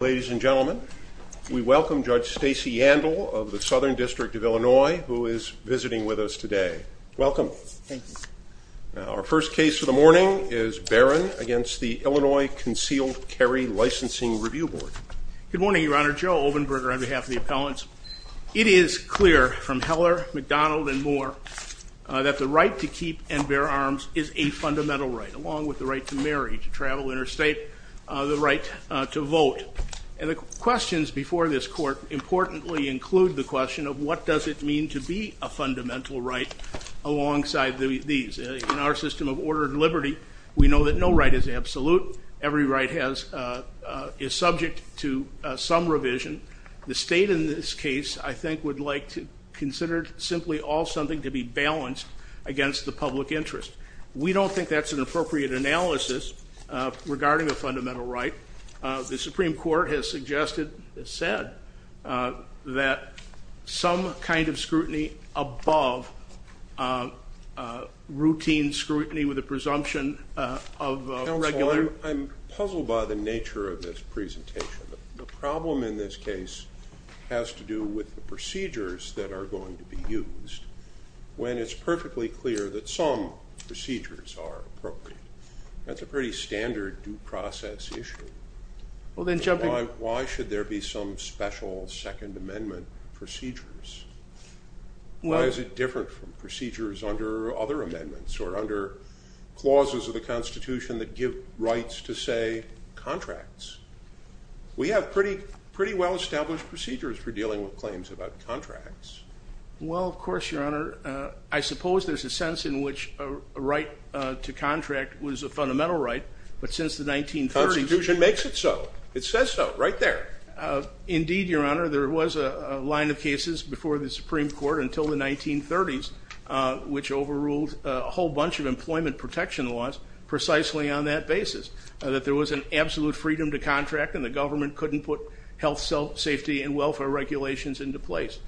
Ladies and gentlemen, we welcome Judge Stacey Yandel of the Southern District of Illinois, who is visiting with us today. Welcome. Our first case for the morning is Berron against the Illinois Concealed Carry Licensing Review Board. Good morning, Your Honor. Joe Obenberger on behalf of the appellants. It is clear from Heller, McDonald, and Moore that the right to keep and bear arms is a fundamental right, along with the right to marry, to travel interstate, the right to vote. And the questions before this court importantly include the question of what does it mean to be a fundamental right alongside these. In our system of order and liberty, we know that no right is absolute. Every right is subject to some revision. The state in this case, I think, would like to consider simply all something to be balanced against the public interest. We don't think that's an appropriate analysis regarding a fundamental right. The Supreme Court has suggested, has said, that some kind of scrutiny above routine scrutiny with a presumption of regular... Counsel, I'm puzzled by the nature of this presentation. The problem in this case has to do with the procedures that are going to be used when it's perfectly clear that some procedures are appropriate. That's a pretty standard due process issue. Why should there be some special Second Amendment procedures? Why is it different from procedures under other amendments or under clauses of the Constitution that give rights to, say, contracts? We have pretty well-established procedures for dealing with claims about contracts. Well, of course, Your Honor. I suppose there's a sense in which a right to contract was a fundamental right, but since the 1930s... Constitution makes it so. It says so right there. Indeed, Your Honor. There was a line of cases before the Supreme Court until the 1930s, which overruled a whole bunch of employment protection laws precisely on that basis, that there was an absolute freedom to contract and the government couldn't put health, safety, and welfare regulations into place.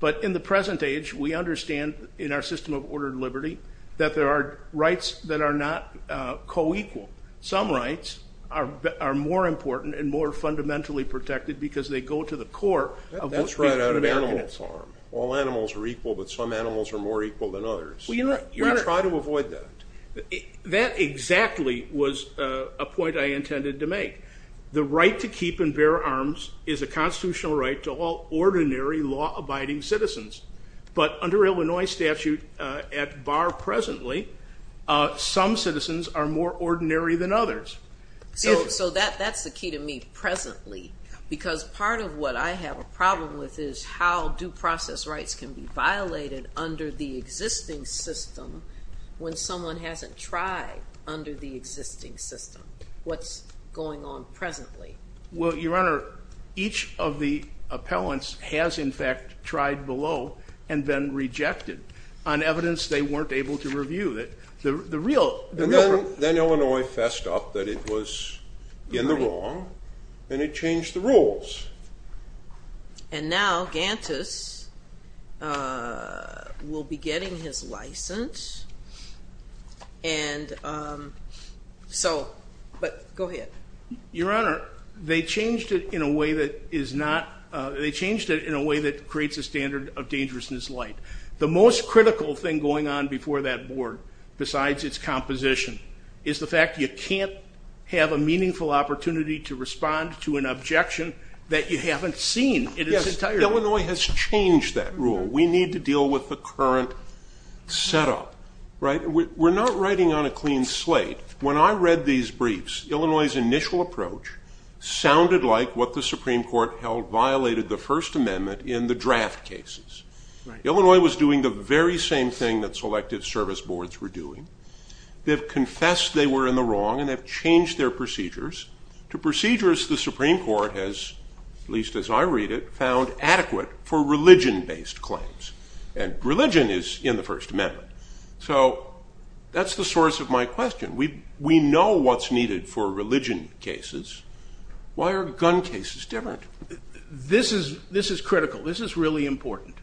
But in the present age, we understand in our system of ordered liberty that there are rights that are not co-equal. Some rights are more important and more fundamentally protected because they go to the core of... That's right out of animal farm. All animals are equal, but some animals are more equal than others. We try to avoid that. That exactly was a point I intended to make. The right to keep and bear arms is a constitutional right to all ordinary law-abiding citizens, but under Illinois statute at bar presently, some citizens are more ordinary than others. So that's the key to me, presently, because part of what I have a problem with is how due process rights can be violated under the existing system when someone hasn't tried under the existing system. What's going on presently? Well, Your Appellants has, in fact, tried below and then rejected on evidence they weren't able to review. Then Illinois fessed up that it was in the wrong and it changed the rules. And now Ganttus will be getting his license, but go ahead. Your Honor, they changed it in a way that creates a standard of dangerousness light. The most critical thing going on before that board besides its composition is the fact you can't have a meaningful opportunity to respond to an objection that you haven't seen in its entirety. Yes, Illinois has changed that rule. We need to deal with the current setup. We're not writing on a sounded like what the Supreme Court held violated the First Amendment in the draft cases. Illinois was doing the very same thing that Selective Service Boards were doing. They've confessed they were in the wrong and have changed their procedures to procedures the Supreme Court has, at least as I read it, found adequate for religion-based claims. And religion is in the First Amendment. So that's the source of my question. We know what's needed for religion cases. Why are gun cases different? This is critical. This is really important.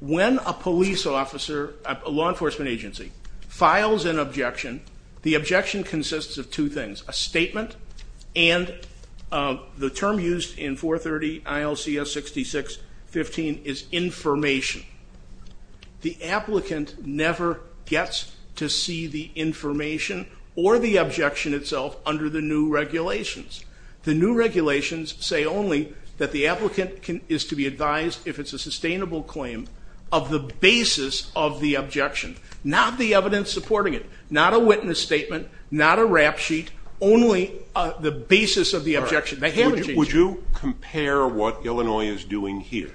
When a police officer, a law enforcement agency, files an objection, the objection consists of two things, a statement and the term used in 430 ILCS 6615 is information. The applicant never gets to see the information or the objection itself under the new regulations. The new regulations say only that the applicant is to be advised, if it's a sustainable claim, of the basis of the objection, not the evidence supporting it, not a witness statement, not a rap sheet, only the basis of the objection. Would you compare what Illinois is doing here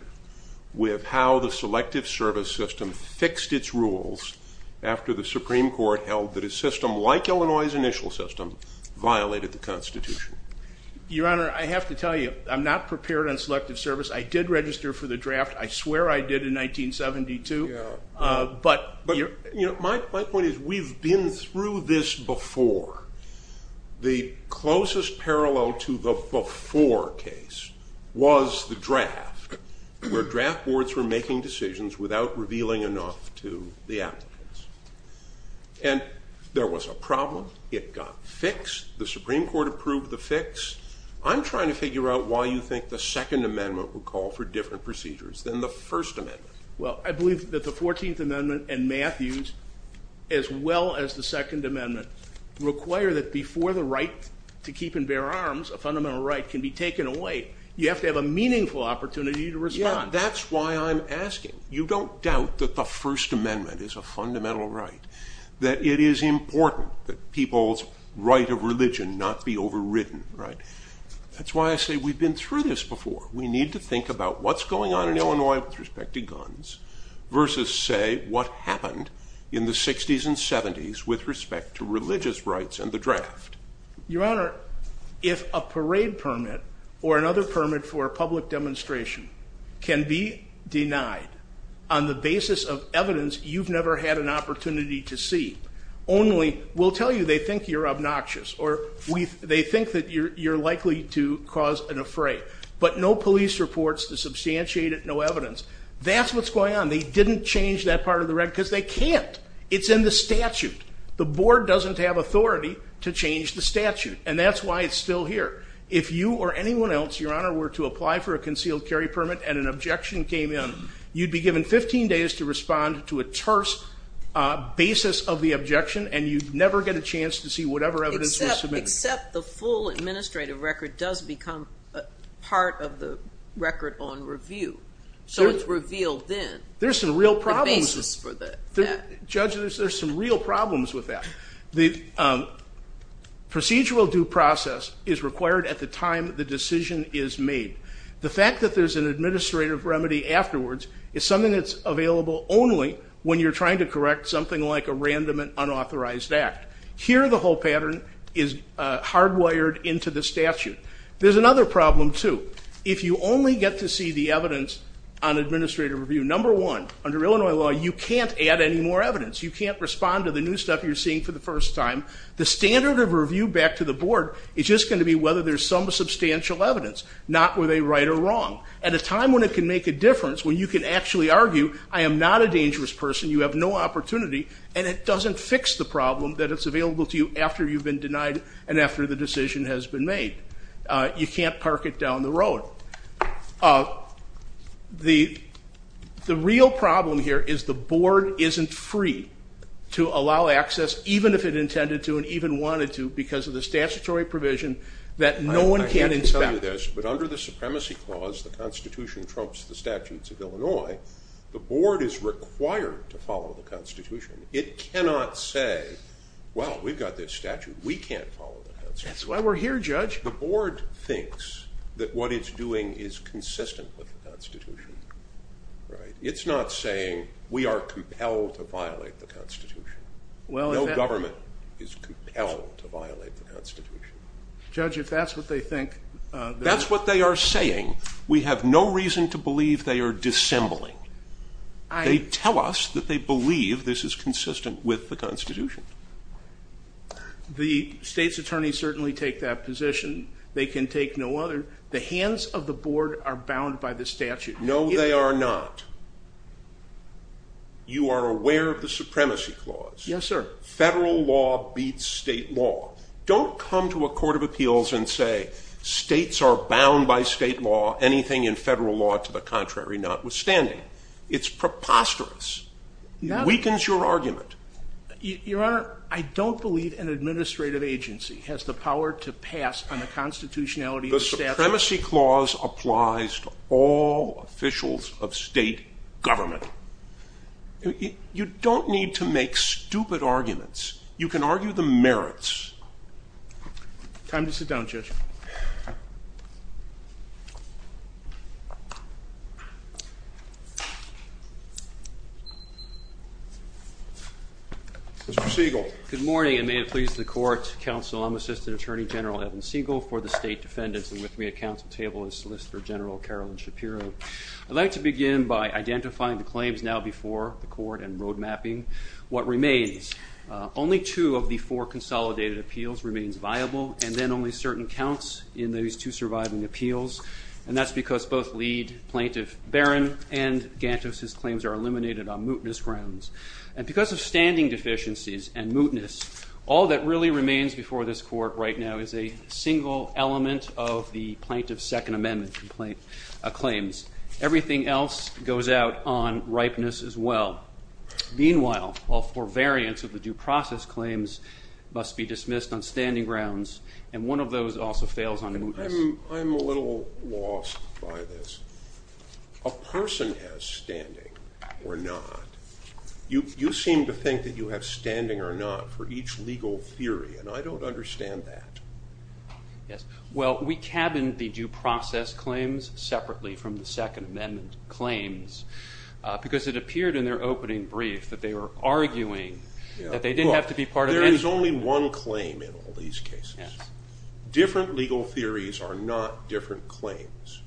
with how the Selective Service System fixed its rules after the Supreme Court held that a system like Illinois' initial system violated the Constitution? Your Honor, I have to tell you, I'm not prepared on Selective Service. I did register for the draft. I swear I did in 1972. But my point is we've been through this before. The closest parallel to the before case was the draft, where draft boards were making decisions without revealing enough to the applicants. And there was a problem. It got fixed. The Supreme Court approved the fix. I'm trying to figure out why you think the Second Amendment would call for different procedures than the First Amendment. Well, I believe that the Fourteenth Amendment and Matthews, as well as the Second Amendment, require that before the right to keep and bear arms, a fundamental right can be taken away. You have to have a meaningful opportunity to respond. Yeah, that's why I'm asking. You don't doubt that the First Amendment is a fundamental right, that it is important that people's right of religion not be overridden, right? That's why I say we've been through this before. We need to think about what's going on in Illinois with respect to guns versus, say, what happened in the 60s and 70s with respect to religious rights and the draft. Your Honor, if a parade permit or another permit for a public demonstration can be denied on the basis of evidence you've never had an opportunity to see, only we'll tell you they think you're obnoxious or they think that you're likely to cause an affray, but no police reports to substantiate it, no evidence. That's what's going on. They didn't change that part of the record because they can't. It's in the statute. The board doesn't have authority to change the statute, and that's why it's still here. If you or anyone else, Your Honor, were to apply for a concealed carry permit and an objection came in, you'd be given 15 days to respond to a terse basis of the objection and you'd never get a chance to see whatever evidence was submitted. Except the full administrative record does become part of the record on review, so it's revealed then. There's some real problems. Judge, there's some real problems with that. The procedural due process is required at the time the decision is made. The fact that there's an administrative remedy afterwards is something that's available only when you're trying to correct something like a random and unauthorized act. Here the whole pattern is hardwired into the statute. There's another problem too. If you only get to see the evidence on administrative review, number one, under Illinois law you can't add any more evidence. You can't respond to the new stuff you're seeing for the first time. The standard of review back to the board is just going to be whether there's some substantial evidence, not were they right or wrong. At a time when it can make a difference, when you can actually argue, I am not a dangerous person, you have no opportunity, and it doesn't fix the problem that it's available to you after you've been denied and after the decision has been made. You can't park it down the road. The real problem here is the board isn't free to allow access, even if it intended to and even wanted to, because of the statutory provision that no one can inspect. I have to tell you this, but under the Supremacy Clause, the Constitution trumps the statutes of Illinois. The board is required to follow the Constitution. It cannot say, well, we've got this statute, we can't follow the Constitution. That's why we're here, judge. The board thinks that what it's doing is consistent with the Constitution, right? It's not saying we are compelled to violate the Constitution. No government is compelled to violate the Constitution. Judge, if that's what they think. That's what they are saying. We have no reason to believe they are dissembling. They tell us that they believe this is consistent with the Constitution. The state's attorneys certainly take that position. They can take no other. The hands of the board are bound by the statute. No, they are not. You are aware of the Supremacy Clause. Yes, sir. Federal law beats state law. Don't come to a court of appeals and say states are bound by state law, anything in federal law to the contrary, notwithstanding. It's preposterous. It weakens your argument. Your Honor, I don't believe an administrative agency has the power to pass on the constitutionality of the statute. The Supremacy Clause applies to all officials of state government. You don't need to make a statement. Mr. Siegel. Good morning, and may it please the court, counsel, I'm Assistant Attorney General Evan Siegel for the State Defendants, and with me at council table is Solicitor General Carolyn Shapiro. I'd like to begin by identifying the claims now before the court and road mapping what remains. Only two of the four consolidated appeals remains viable, and then only certain counts in those two surviving appeals, and that's because both Plaintiff Barron and Gantos' claims are eliminated on mootness grounds, and because of standing deficiencies and mootness, all that really remains before this court right now is a single element of the Plaintiff's Second Amendment claims. Everything else goes out on ripeness as well. Meanwhile, all four variants of the due process claims must be dismissed on standing grounds, and one of those also fails on mootness. I'm a little lost by this. A person has standing or not. You seem to think that you have standing or not for each legal theory, and I don't understand that. Yes, well, we cabined the due process claims separately from the Second Amendment claims because it appeared in their opening brief that they were arguing that they didn't have to be there. There is only one claim in all these cases. Different legal theories are not different claims.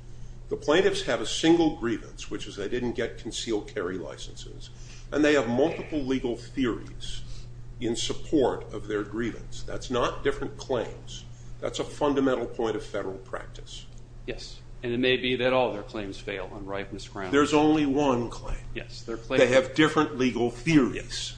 The plaintiffs have a single grievance, which is they didn't get concealed carry licenses, and they have multiple legal theories in support of their grievance. That's not different claims. That's a fundamental point of federal practice. Yes, and it may be that all their claims fail on ripeness grounds. There's only one claim. Yes. They have different legal theories.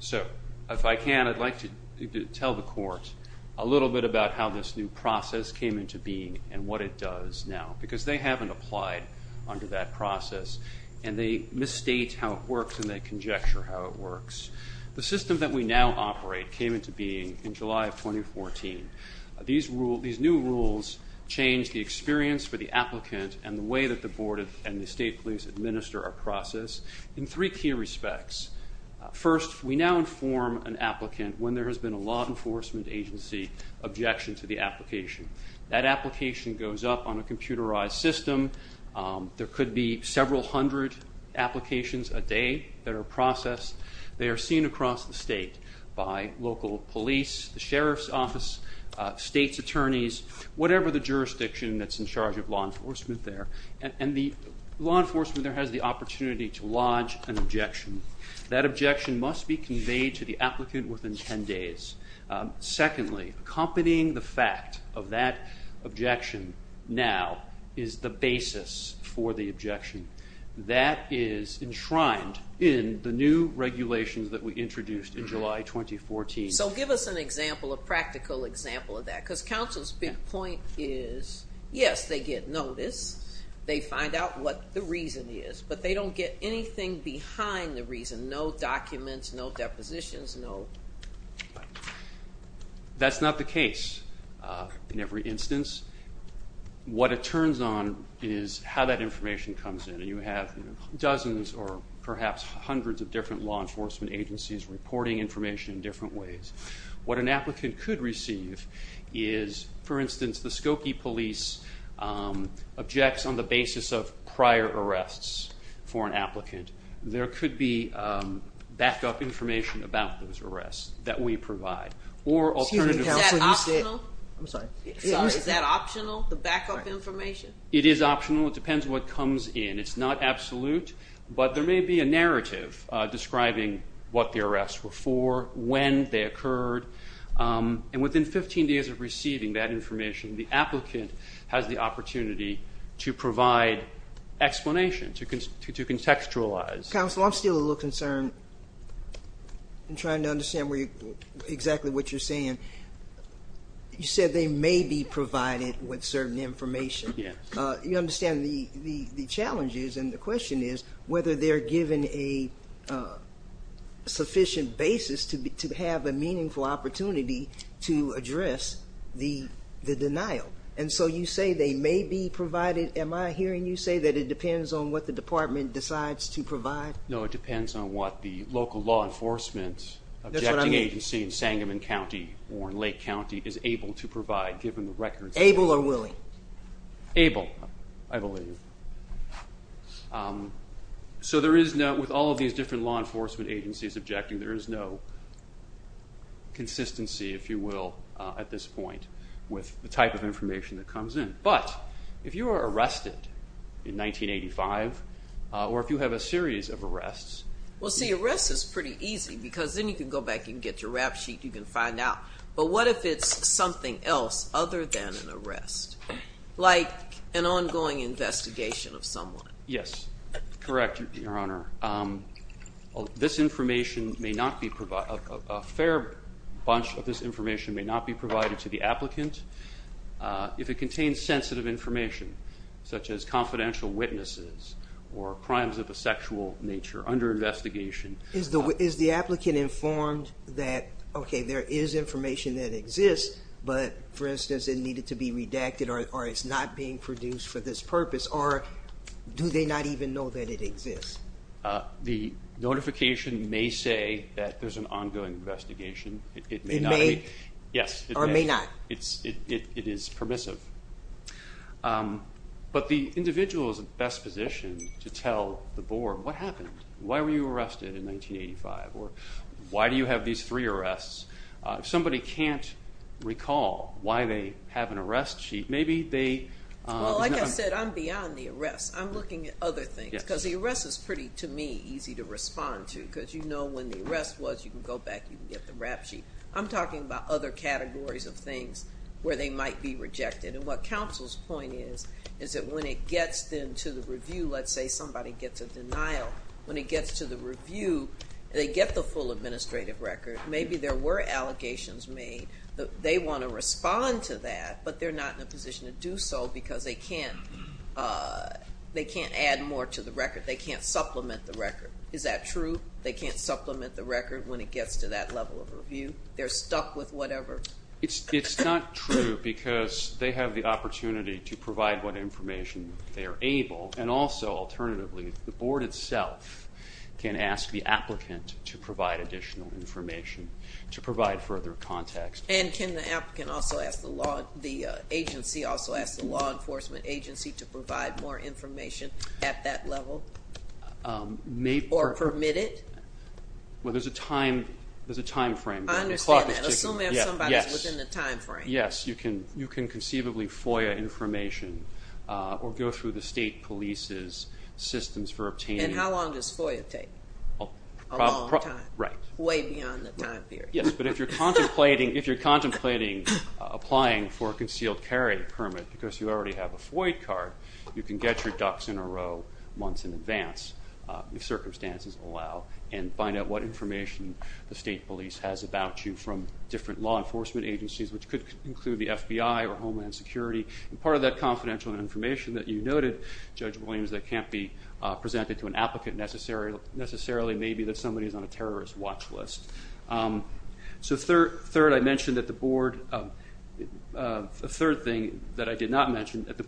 So, if I can, I'd like to tell the court a little bit about how this new process came into being and what it does now because they haven't applied under that process, and they misstate how it works and they conjecture how it works. The system that we now operate came into being in July of 2014. These new rules change the experience for the applicant and the way that the board and the First, we now inform an applicant when there has been a law enforcement agency objection to the application. That application goes up on a computerized system. There could be several hundred applications a day that are processed. They are seen across the state by local police, the sheriff's office, state's attorneys, whatever the jurisdiction that's in charge of law enforcement there, and the law enforcement there has the opportunity to lodge an objection. That objection must be conveyed to the applicant within 10 days. Secondly, accompanying the fact of that objection now is the basis for the objection. That is enshrined in the new regulations that we introduced in July 2014. So, give us an example, a practical example of that because counsel's big point is, yes, they get notice. They find out what the reason is, but they don't get anything behind the reason. No documents, no depositions, no... That's not the case in every instance. What it turns on is how that information comes in, and you have dozens or perhaps hundreds of different law enforcement agencies reporting information in different ways. What an applicant could receive is, for instance, the Skokie police objects on the basis of prior arrests for an applicant. There could be backup information about those arrests that we provide. Is that optional, the backup information? It is optional. It depends what comes in. It's not absolute, but there may be a narrative describing what the arrests were for, when they occurred, and within 15 days of receiving that information, the applicant has the opportunity to provide explanation, to contextualize. Counsel, I'm still a little concerned in trying to understand exactly what you're saying. You said they may be provided with certain information. You understand the challenges, and the question is whether they're given a sufficient basis to have a meaningful opportunity to address the denial. You say they may be provided. Am I hearing you say that it depends on what the department decides to provide? No, it depends on what the local law enforcement objecting agency in Sangamon County or in Lake County is able to provide, given the records. Able or willing? Able, I believe. With all of these different law enforcement agencies objecting, there is no consistency, if you will, at this point, with the type of information that comes in. But, if you are arrested in 1985, or if you have a series of arrests... Well, see, arrest is pretty easy, because then you can go back and get your rap sheet, you can find out. But what if it's something else other than an arrest, like an ongoing investigation of someone? Yes, correct, Your Honor. This information may not be... A fair bunch of this information may not be provided to the applicant. If it contains sensitive information, such as confidential witnesses, or crimes of a sexual nature under investigation... Is the applicant informed that, okay, there is information that exists, but, for instance, it needed to be redacted, or it's not being produced for this purpose, or do they not even know that it exists? The notification may say that there's an ongoing investigation. It may not... It may? Yes. Or may not? It is permissive. But the individual is in the best position to tell the board, what happened? Why were you arrested in 1985? Or, why do you have these three arrests? If somebody can't recall why they have an arrest sheet, maybe they... Well, like I said, I'm beyond the arrest is pretty, to me, easy to respond to, because you know when the arrest was, you can go back, you can get the rap sheet. I'm talking about other categories of things where they might be rejected. And what counsel's point is, is that when it gets then to the review, let's say somebody gets a denial, when it gets to the review, they get the full administrative record. Maybe there were allegations made, but they want to respond to that, but they're not in a position to do so because they can't... They can't add more to the record. They can't supplement the record. Is that true? They can't supplement the record when it gets to that level of review? They're stuck with whatever? It's not true because they have the opportunity to provide what information they are able. And also, alternatively, the board itself can ask the applicant to provide additional information, to provide further context. And can the applicant also ask the law... to provide more information at that level? Or permit it? Well, there's a time frame. I understand that. Assuming somebody's within the time frame. Yes, you can conceivably FOIA information or go through the state police's systems for obtaining... And how long does FOIA take? A long time. Way beyond the time period. Yes, but if you're contemplating applying for a concealed carry permit because you already have a FOIA card, you can get your ducks in a row months in advance, if circumstances allow, and find out what information the state police has about you from different law enforcement agencies, which could include the FBI or Homeland Security. And part of that confidential information that you noted, Judge Williams, that can't be presented to an applicant necessarily may be that somebody is on a terrorist watch list. So third, I mentioned that the board... the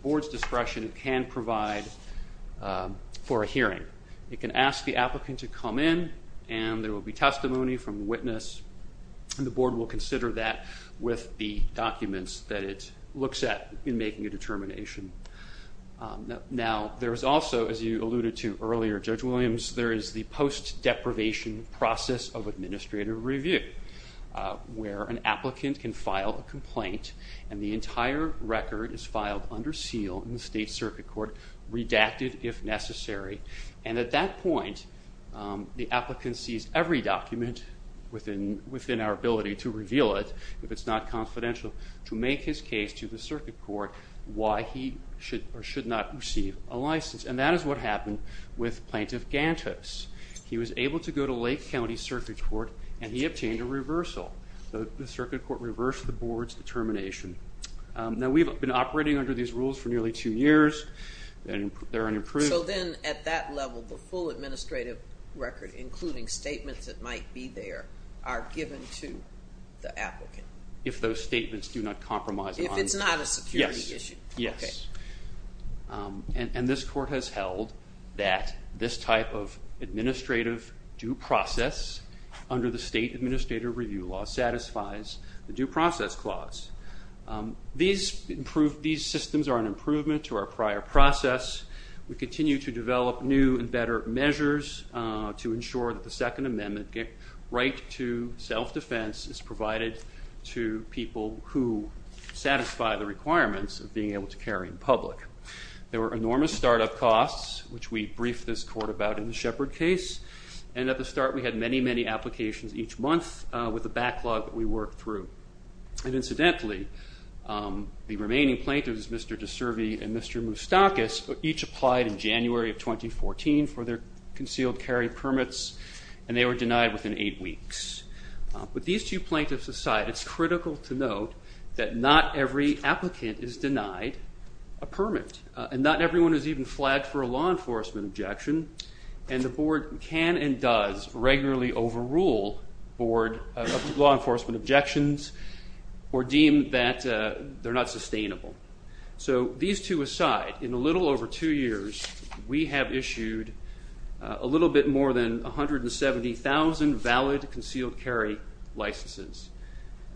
board's discretion can provide for a hearing. It can ask the applicant to come in and there will be testimony from a witness, and the board will consider that with the documents that it looks at in making a determination. Now, there's also, as you alluded to earlier, Judge Williams, there is the post-deprivation process of administrative review, where an applicant can file a complaint and the entire record is filed under seal in the state circuit court, redacted if necessary, and at that point the applicant sees every document within our ability to reveal it, if it's not confidential, to make his case to the circuit court why he should or should not receive a license. And that is what happened with Plaintiff Gantos. He was able to go to Lake County Circuit Court and he obtained a reversal. The circuit court reversed the board's determination. Now, we've been operating under these rules for nearly two years and they're unimproved. So then, at that level, the full administrative record, including statements that might be there, are given to the applicant? If those statements do not compromise. If it's not a security issue. Yes. Okay. And this court has held that this type of administrative due process under the state administrative review law satisfies the due process clause. These systems are an improvement to our prior process. We continue to develop new and better measures to ensure that the Second Amendment right to self-defense is provided to people who satisfy the requirements of being able to carry in public. There were enormous startup costs, which we briefed this court about in the Shepard case. And at the start, we had many, many applications each month with the backlog that we worked through. And incidentally, the remaining plaintiffs, Mr. DiCervi and Mr. Moustakis, each applied in January of 2014 for their concealed carry permits and they were denied within eight a permit. And not everyone is even flagged for a law enforcement objection. And the board can and does regularly overrule law enforcement objections or deem that they're not sustainable. So these two aside, in a little over two years, we have issued a little bit more than 170,000 valid concealed carry licenses.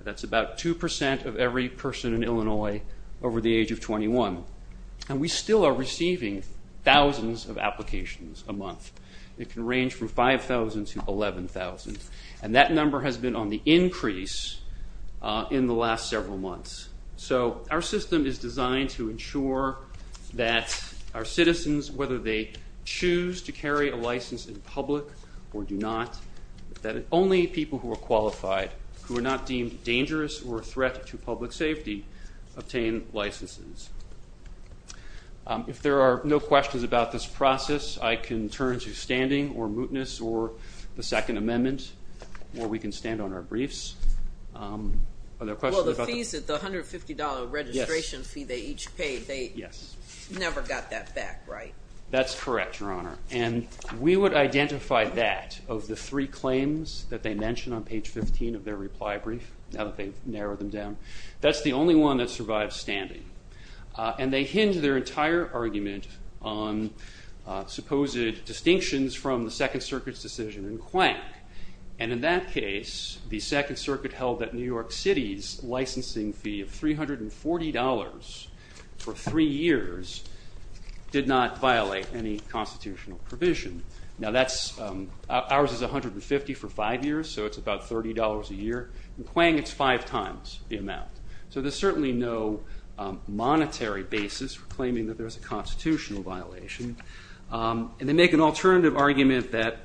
That's about 2% of every person in Illinois over the age of 21. And we still are receiving thousands of applications a month. It can range from 5,000 to 11,000. And that number has been on the increase in the last several months. So our system is designed to ensure that our citizens, whether they choose to carry a license in public or do not, that only people who are qualified, who are not deemed dangerous or a threat to public safety, obtain licenses. If there are no questions about this process, I can turn to standing or mootness or the Second Amendment, or we can stand on our briefs. Are there questions about that? Well, the fees, the $150 registration fee they each paid, they never got that back, right? That's correct, Your Honor. And we would identify that of the three claims that they mentioned on page 15 of their reply brief, now that they've narrowed them down. That's the only one that survives standing. And they hinge their entire argument on supposed distinctions from the Second Circuit's decision in Quank. And in that case, the Second Circuit held that New York City's any constitutional provision. Now, ours is $150 for five years, so it's about $30 a year. In Quank, it's five times the amount. So there's certainly no monetary basis for claiming that there's a constitutional violation. And they make an alternative argument that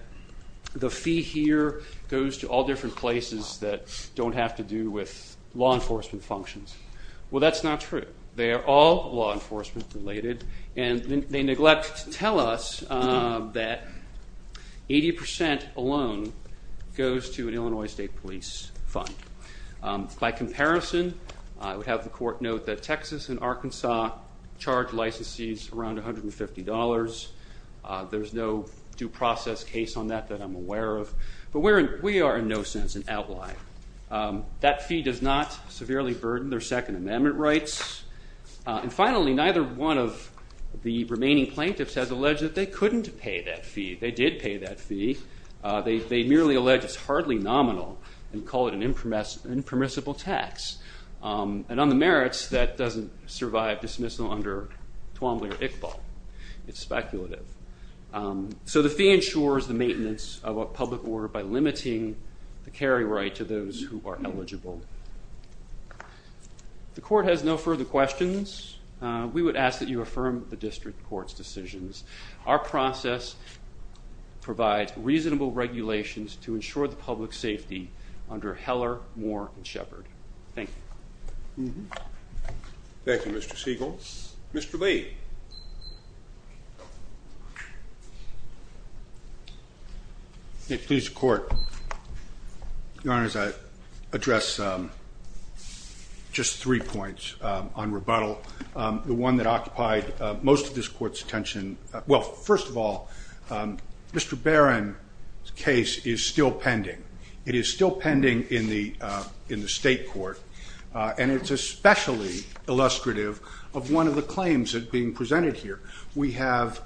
the fee here goes to all different places that don't have to do with law enforcement functions. Well, that's not true. They are all law enforcement related, and they neglect to tell us that 80% alone goes to an Illinois State Police fund. By comparison, I would have the court note that Texas and Arkansas charge licensees around $150. There's no due process case on that that I'm aware of. But we are in no sense an outlier. That fee does not severely burden their Second Amendment rights. And finally, neither one of the remaining plaintiffs has alleged that they couldn't pay that fee. They did pay that fee. They merely allege it's hardly nominal and call it an impermissible tax. And on the merits, that doesn't survive dismissal under Twombly or Iqbal. It's maintenance of a public order by limiting the carry right to those who are eligible. The court has no further questions. We would ask that you affirm the district court's decisions. Our process provides reasonable regulations to ensure the public safety under Heller, Moore, and Shepard. Thank you. Thank you, Mr. Siegel. Mr. Lee. May it please the court. Your Honor, as I address just three points on rebuttal, the one that occupied most of this court's attention, well, first of all, Mr. Barron's case is still pending. It is still pending in the state court. And it's especially illustrative of one of the claims that's being presented here. We have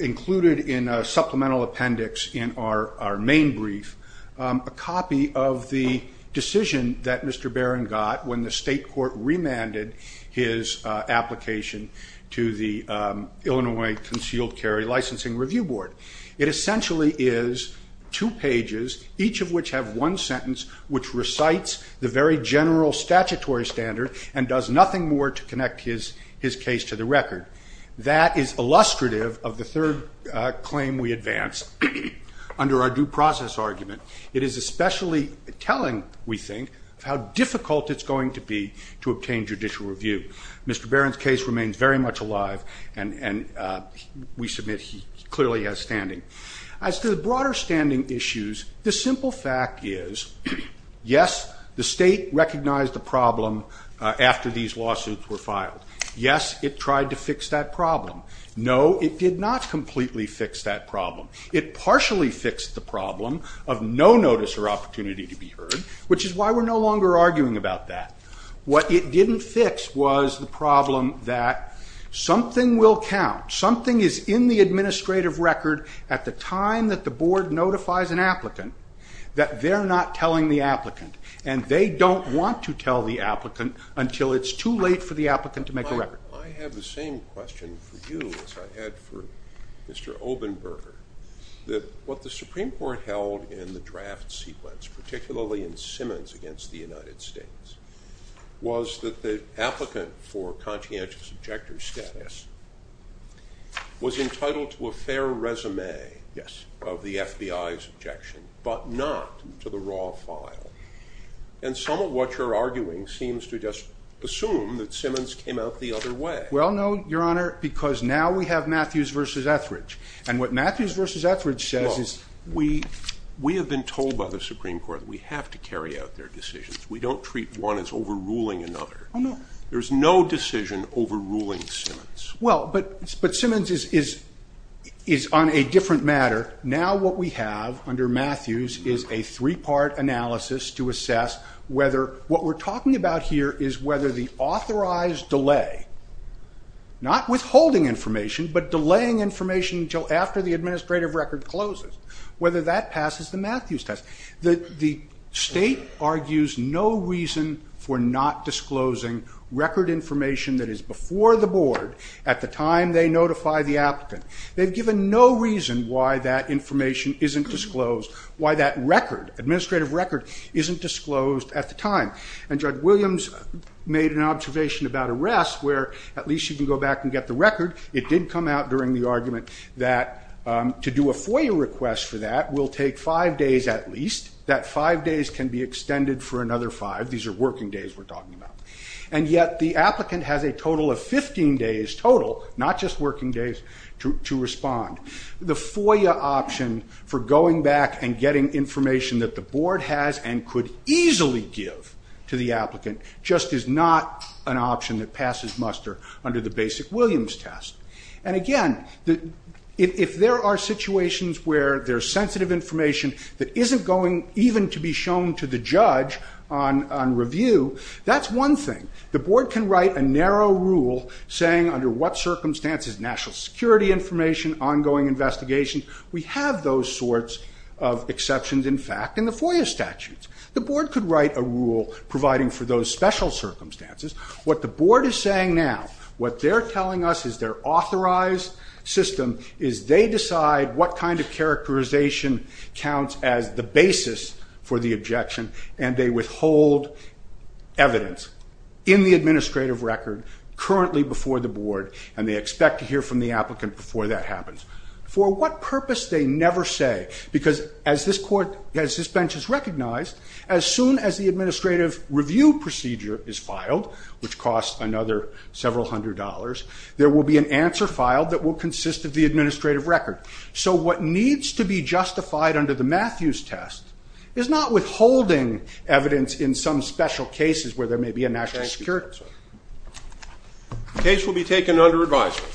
included in a supplemental appendix in our main brief a copy of the decision that Mr. Barron got when the state court remanded his application to the Illinois Concealed Carry Licensing Review Board. It essentially is two pages, each of which have one sentence which recites the very general statutory standard and does nothing more to connect his case to the record. That is illustrative of the third claim we advance under our due process argument. It is especially telling, we think, of how difficult it's going to be to obtain judicial review. Mr. Barron's case remains very much alive. And we submit he clearly has standing. As to the broader standing issues, the simple fact is, yes, the state recognized the problem after these lawsuits were filed. Yes, it tried to fix that problem. No, it did not completely fix that problem. It partially fixed the problem of no notice or opportunity to be heard, which is why we're no longer arguing about that. What it didn't fix was the problem that something will count, something is in the administrative record at the time that the board notifies an applicant that they're not telling the applicant and they don't want to tell the applicant until it's too late for the applicant to make a record. I have the same question for you as I had for Mr. Obenberger, that what the Supreme Court held in the draft sequence, particularly in Simmons against the FBI, was entitled to a fair resume of the FBI's objection, but not to the raw file. And some of what you're arguing seems to just assume that Simmons came out the other way. Well, no, Your Honor, because now we have Matthews versus Etheridge. And what Matthews versus Etheridge says is... We have been told by the Supreme Court that we have to carry out their decisions. We don't treat one as overruling another. There's no decision overruling Simmons. But Simmons is on a different matter. Now what we have under Matthews is a three-part analysis to assess whether... What we're talking about here is whether the authorized delay, not withholding information, but delaying information until after the administrative record closes, whether that passes the Matthews test. The state argues no reason for not disclosing record information that is before the board at the time they notify the applicant. They've given no reason why that information isn't disclosed, why that record, administrative record, isn't disclosed at the time. And Judge Williams made an observation about arrests where at least you can go back and get the record. It did come out during the argument that to do a FOIA request for that will take five days at least, that five days can be extended for another five. These are working days we're talking about. And yet the applicant has a total of 15 days total, not just working days, to respond. The FOIA option for going back and getting information that the board has and could easily give to the applicant just is not an option that passes muster under the basic Williams test. And again, if there are situations where there's sensitive information that isn't even to be shown to the judge on review, that's one thing. The board can write a narrow rule saying under what circumstances, national security information, ongoing investigation, we have those sorts of exceptions in fact in the FOIA statutes. The board could write a rule providing for those special circumstances. What the board is saying now, what they're telling us is their authorized system is they decide what kind of characterization counts as the basis for the objection and they withhold evidence in the administrative record currently before the board and they expect to hear from the applicant before that happens. For what purpose they never say, because as this court, as this bench has recognized, as soon as the administrative review procedure is filed, which costs another several hundred dollars, there will be an answer filed that will consist of the administrative record. So what needs to be justified under the Matthews test is not withholding evidence in some special cases where there may be a national security. The case will be taken under advisory.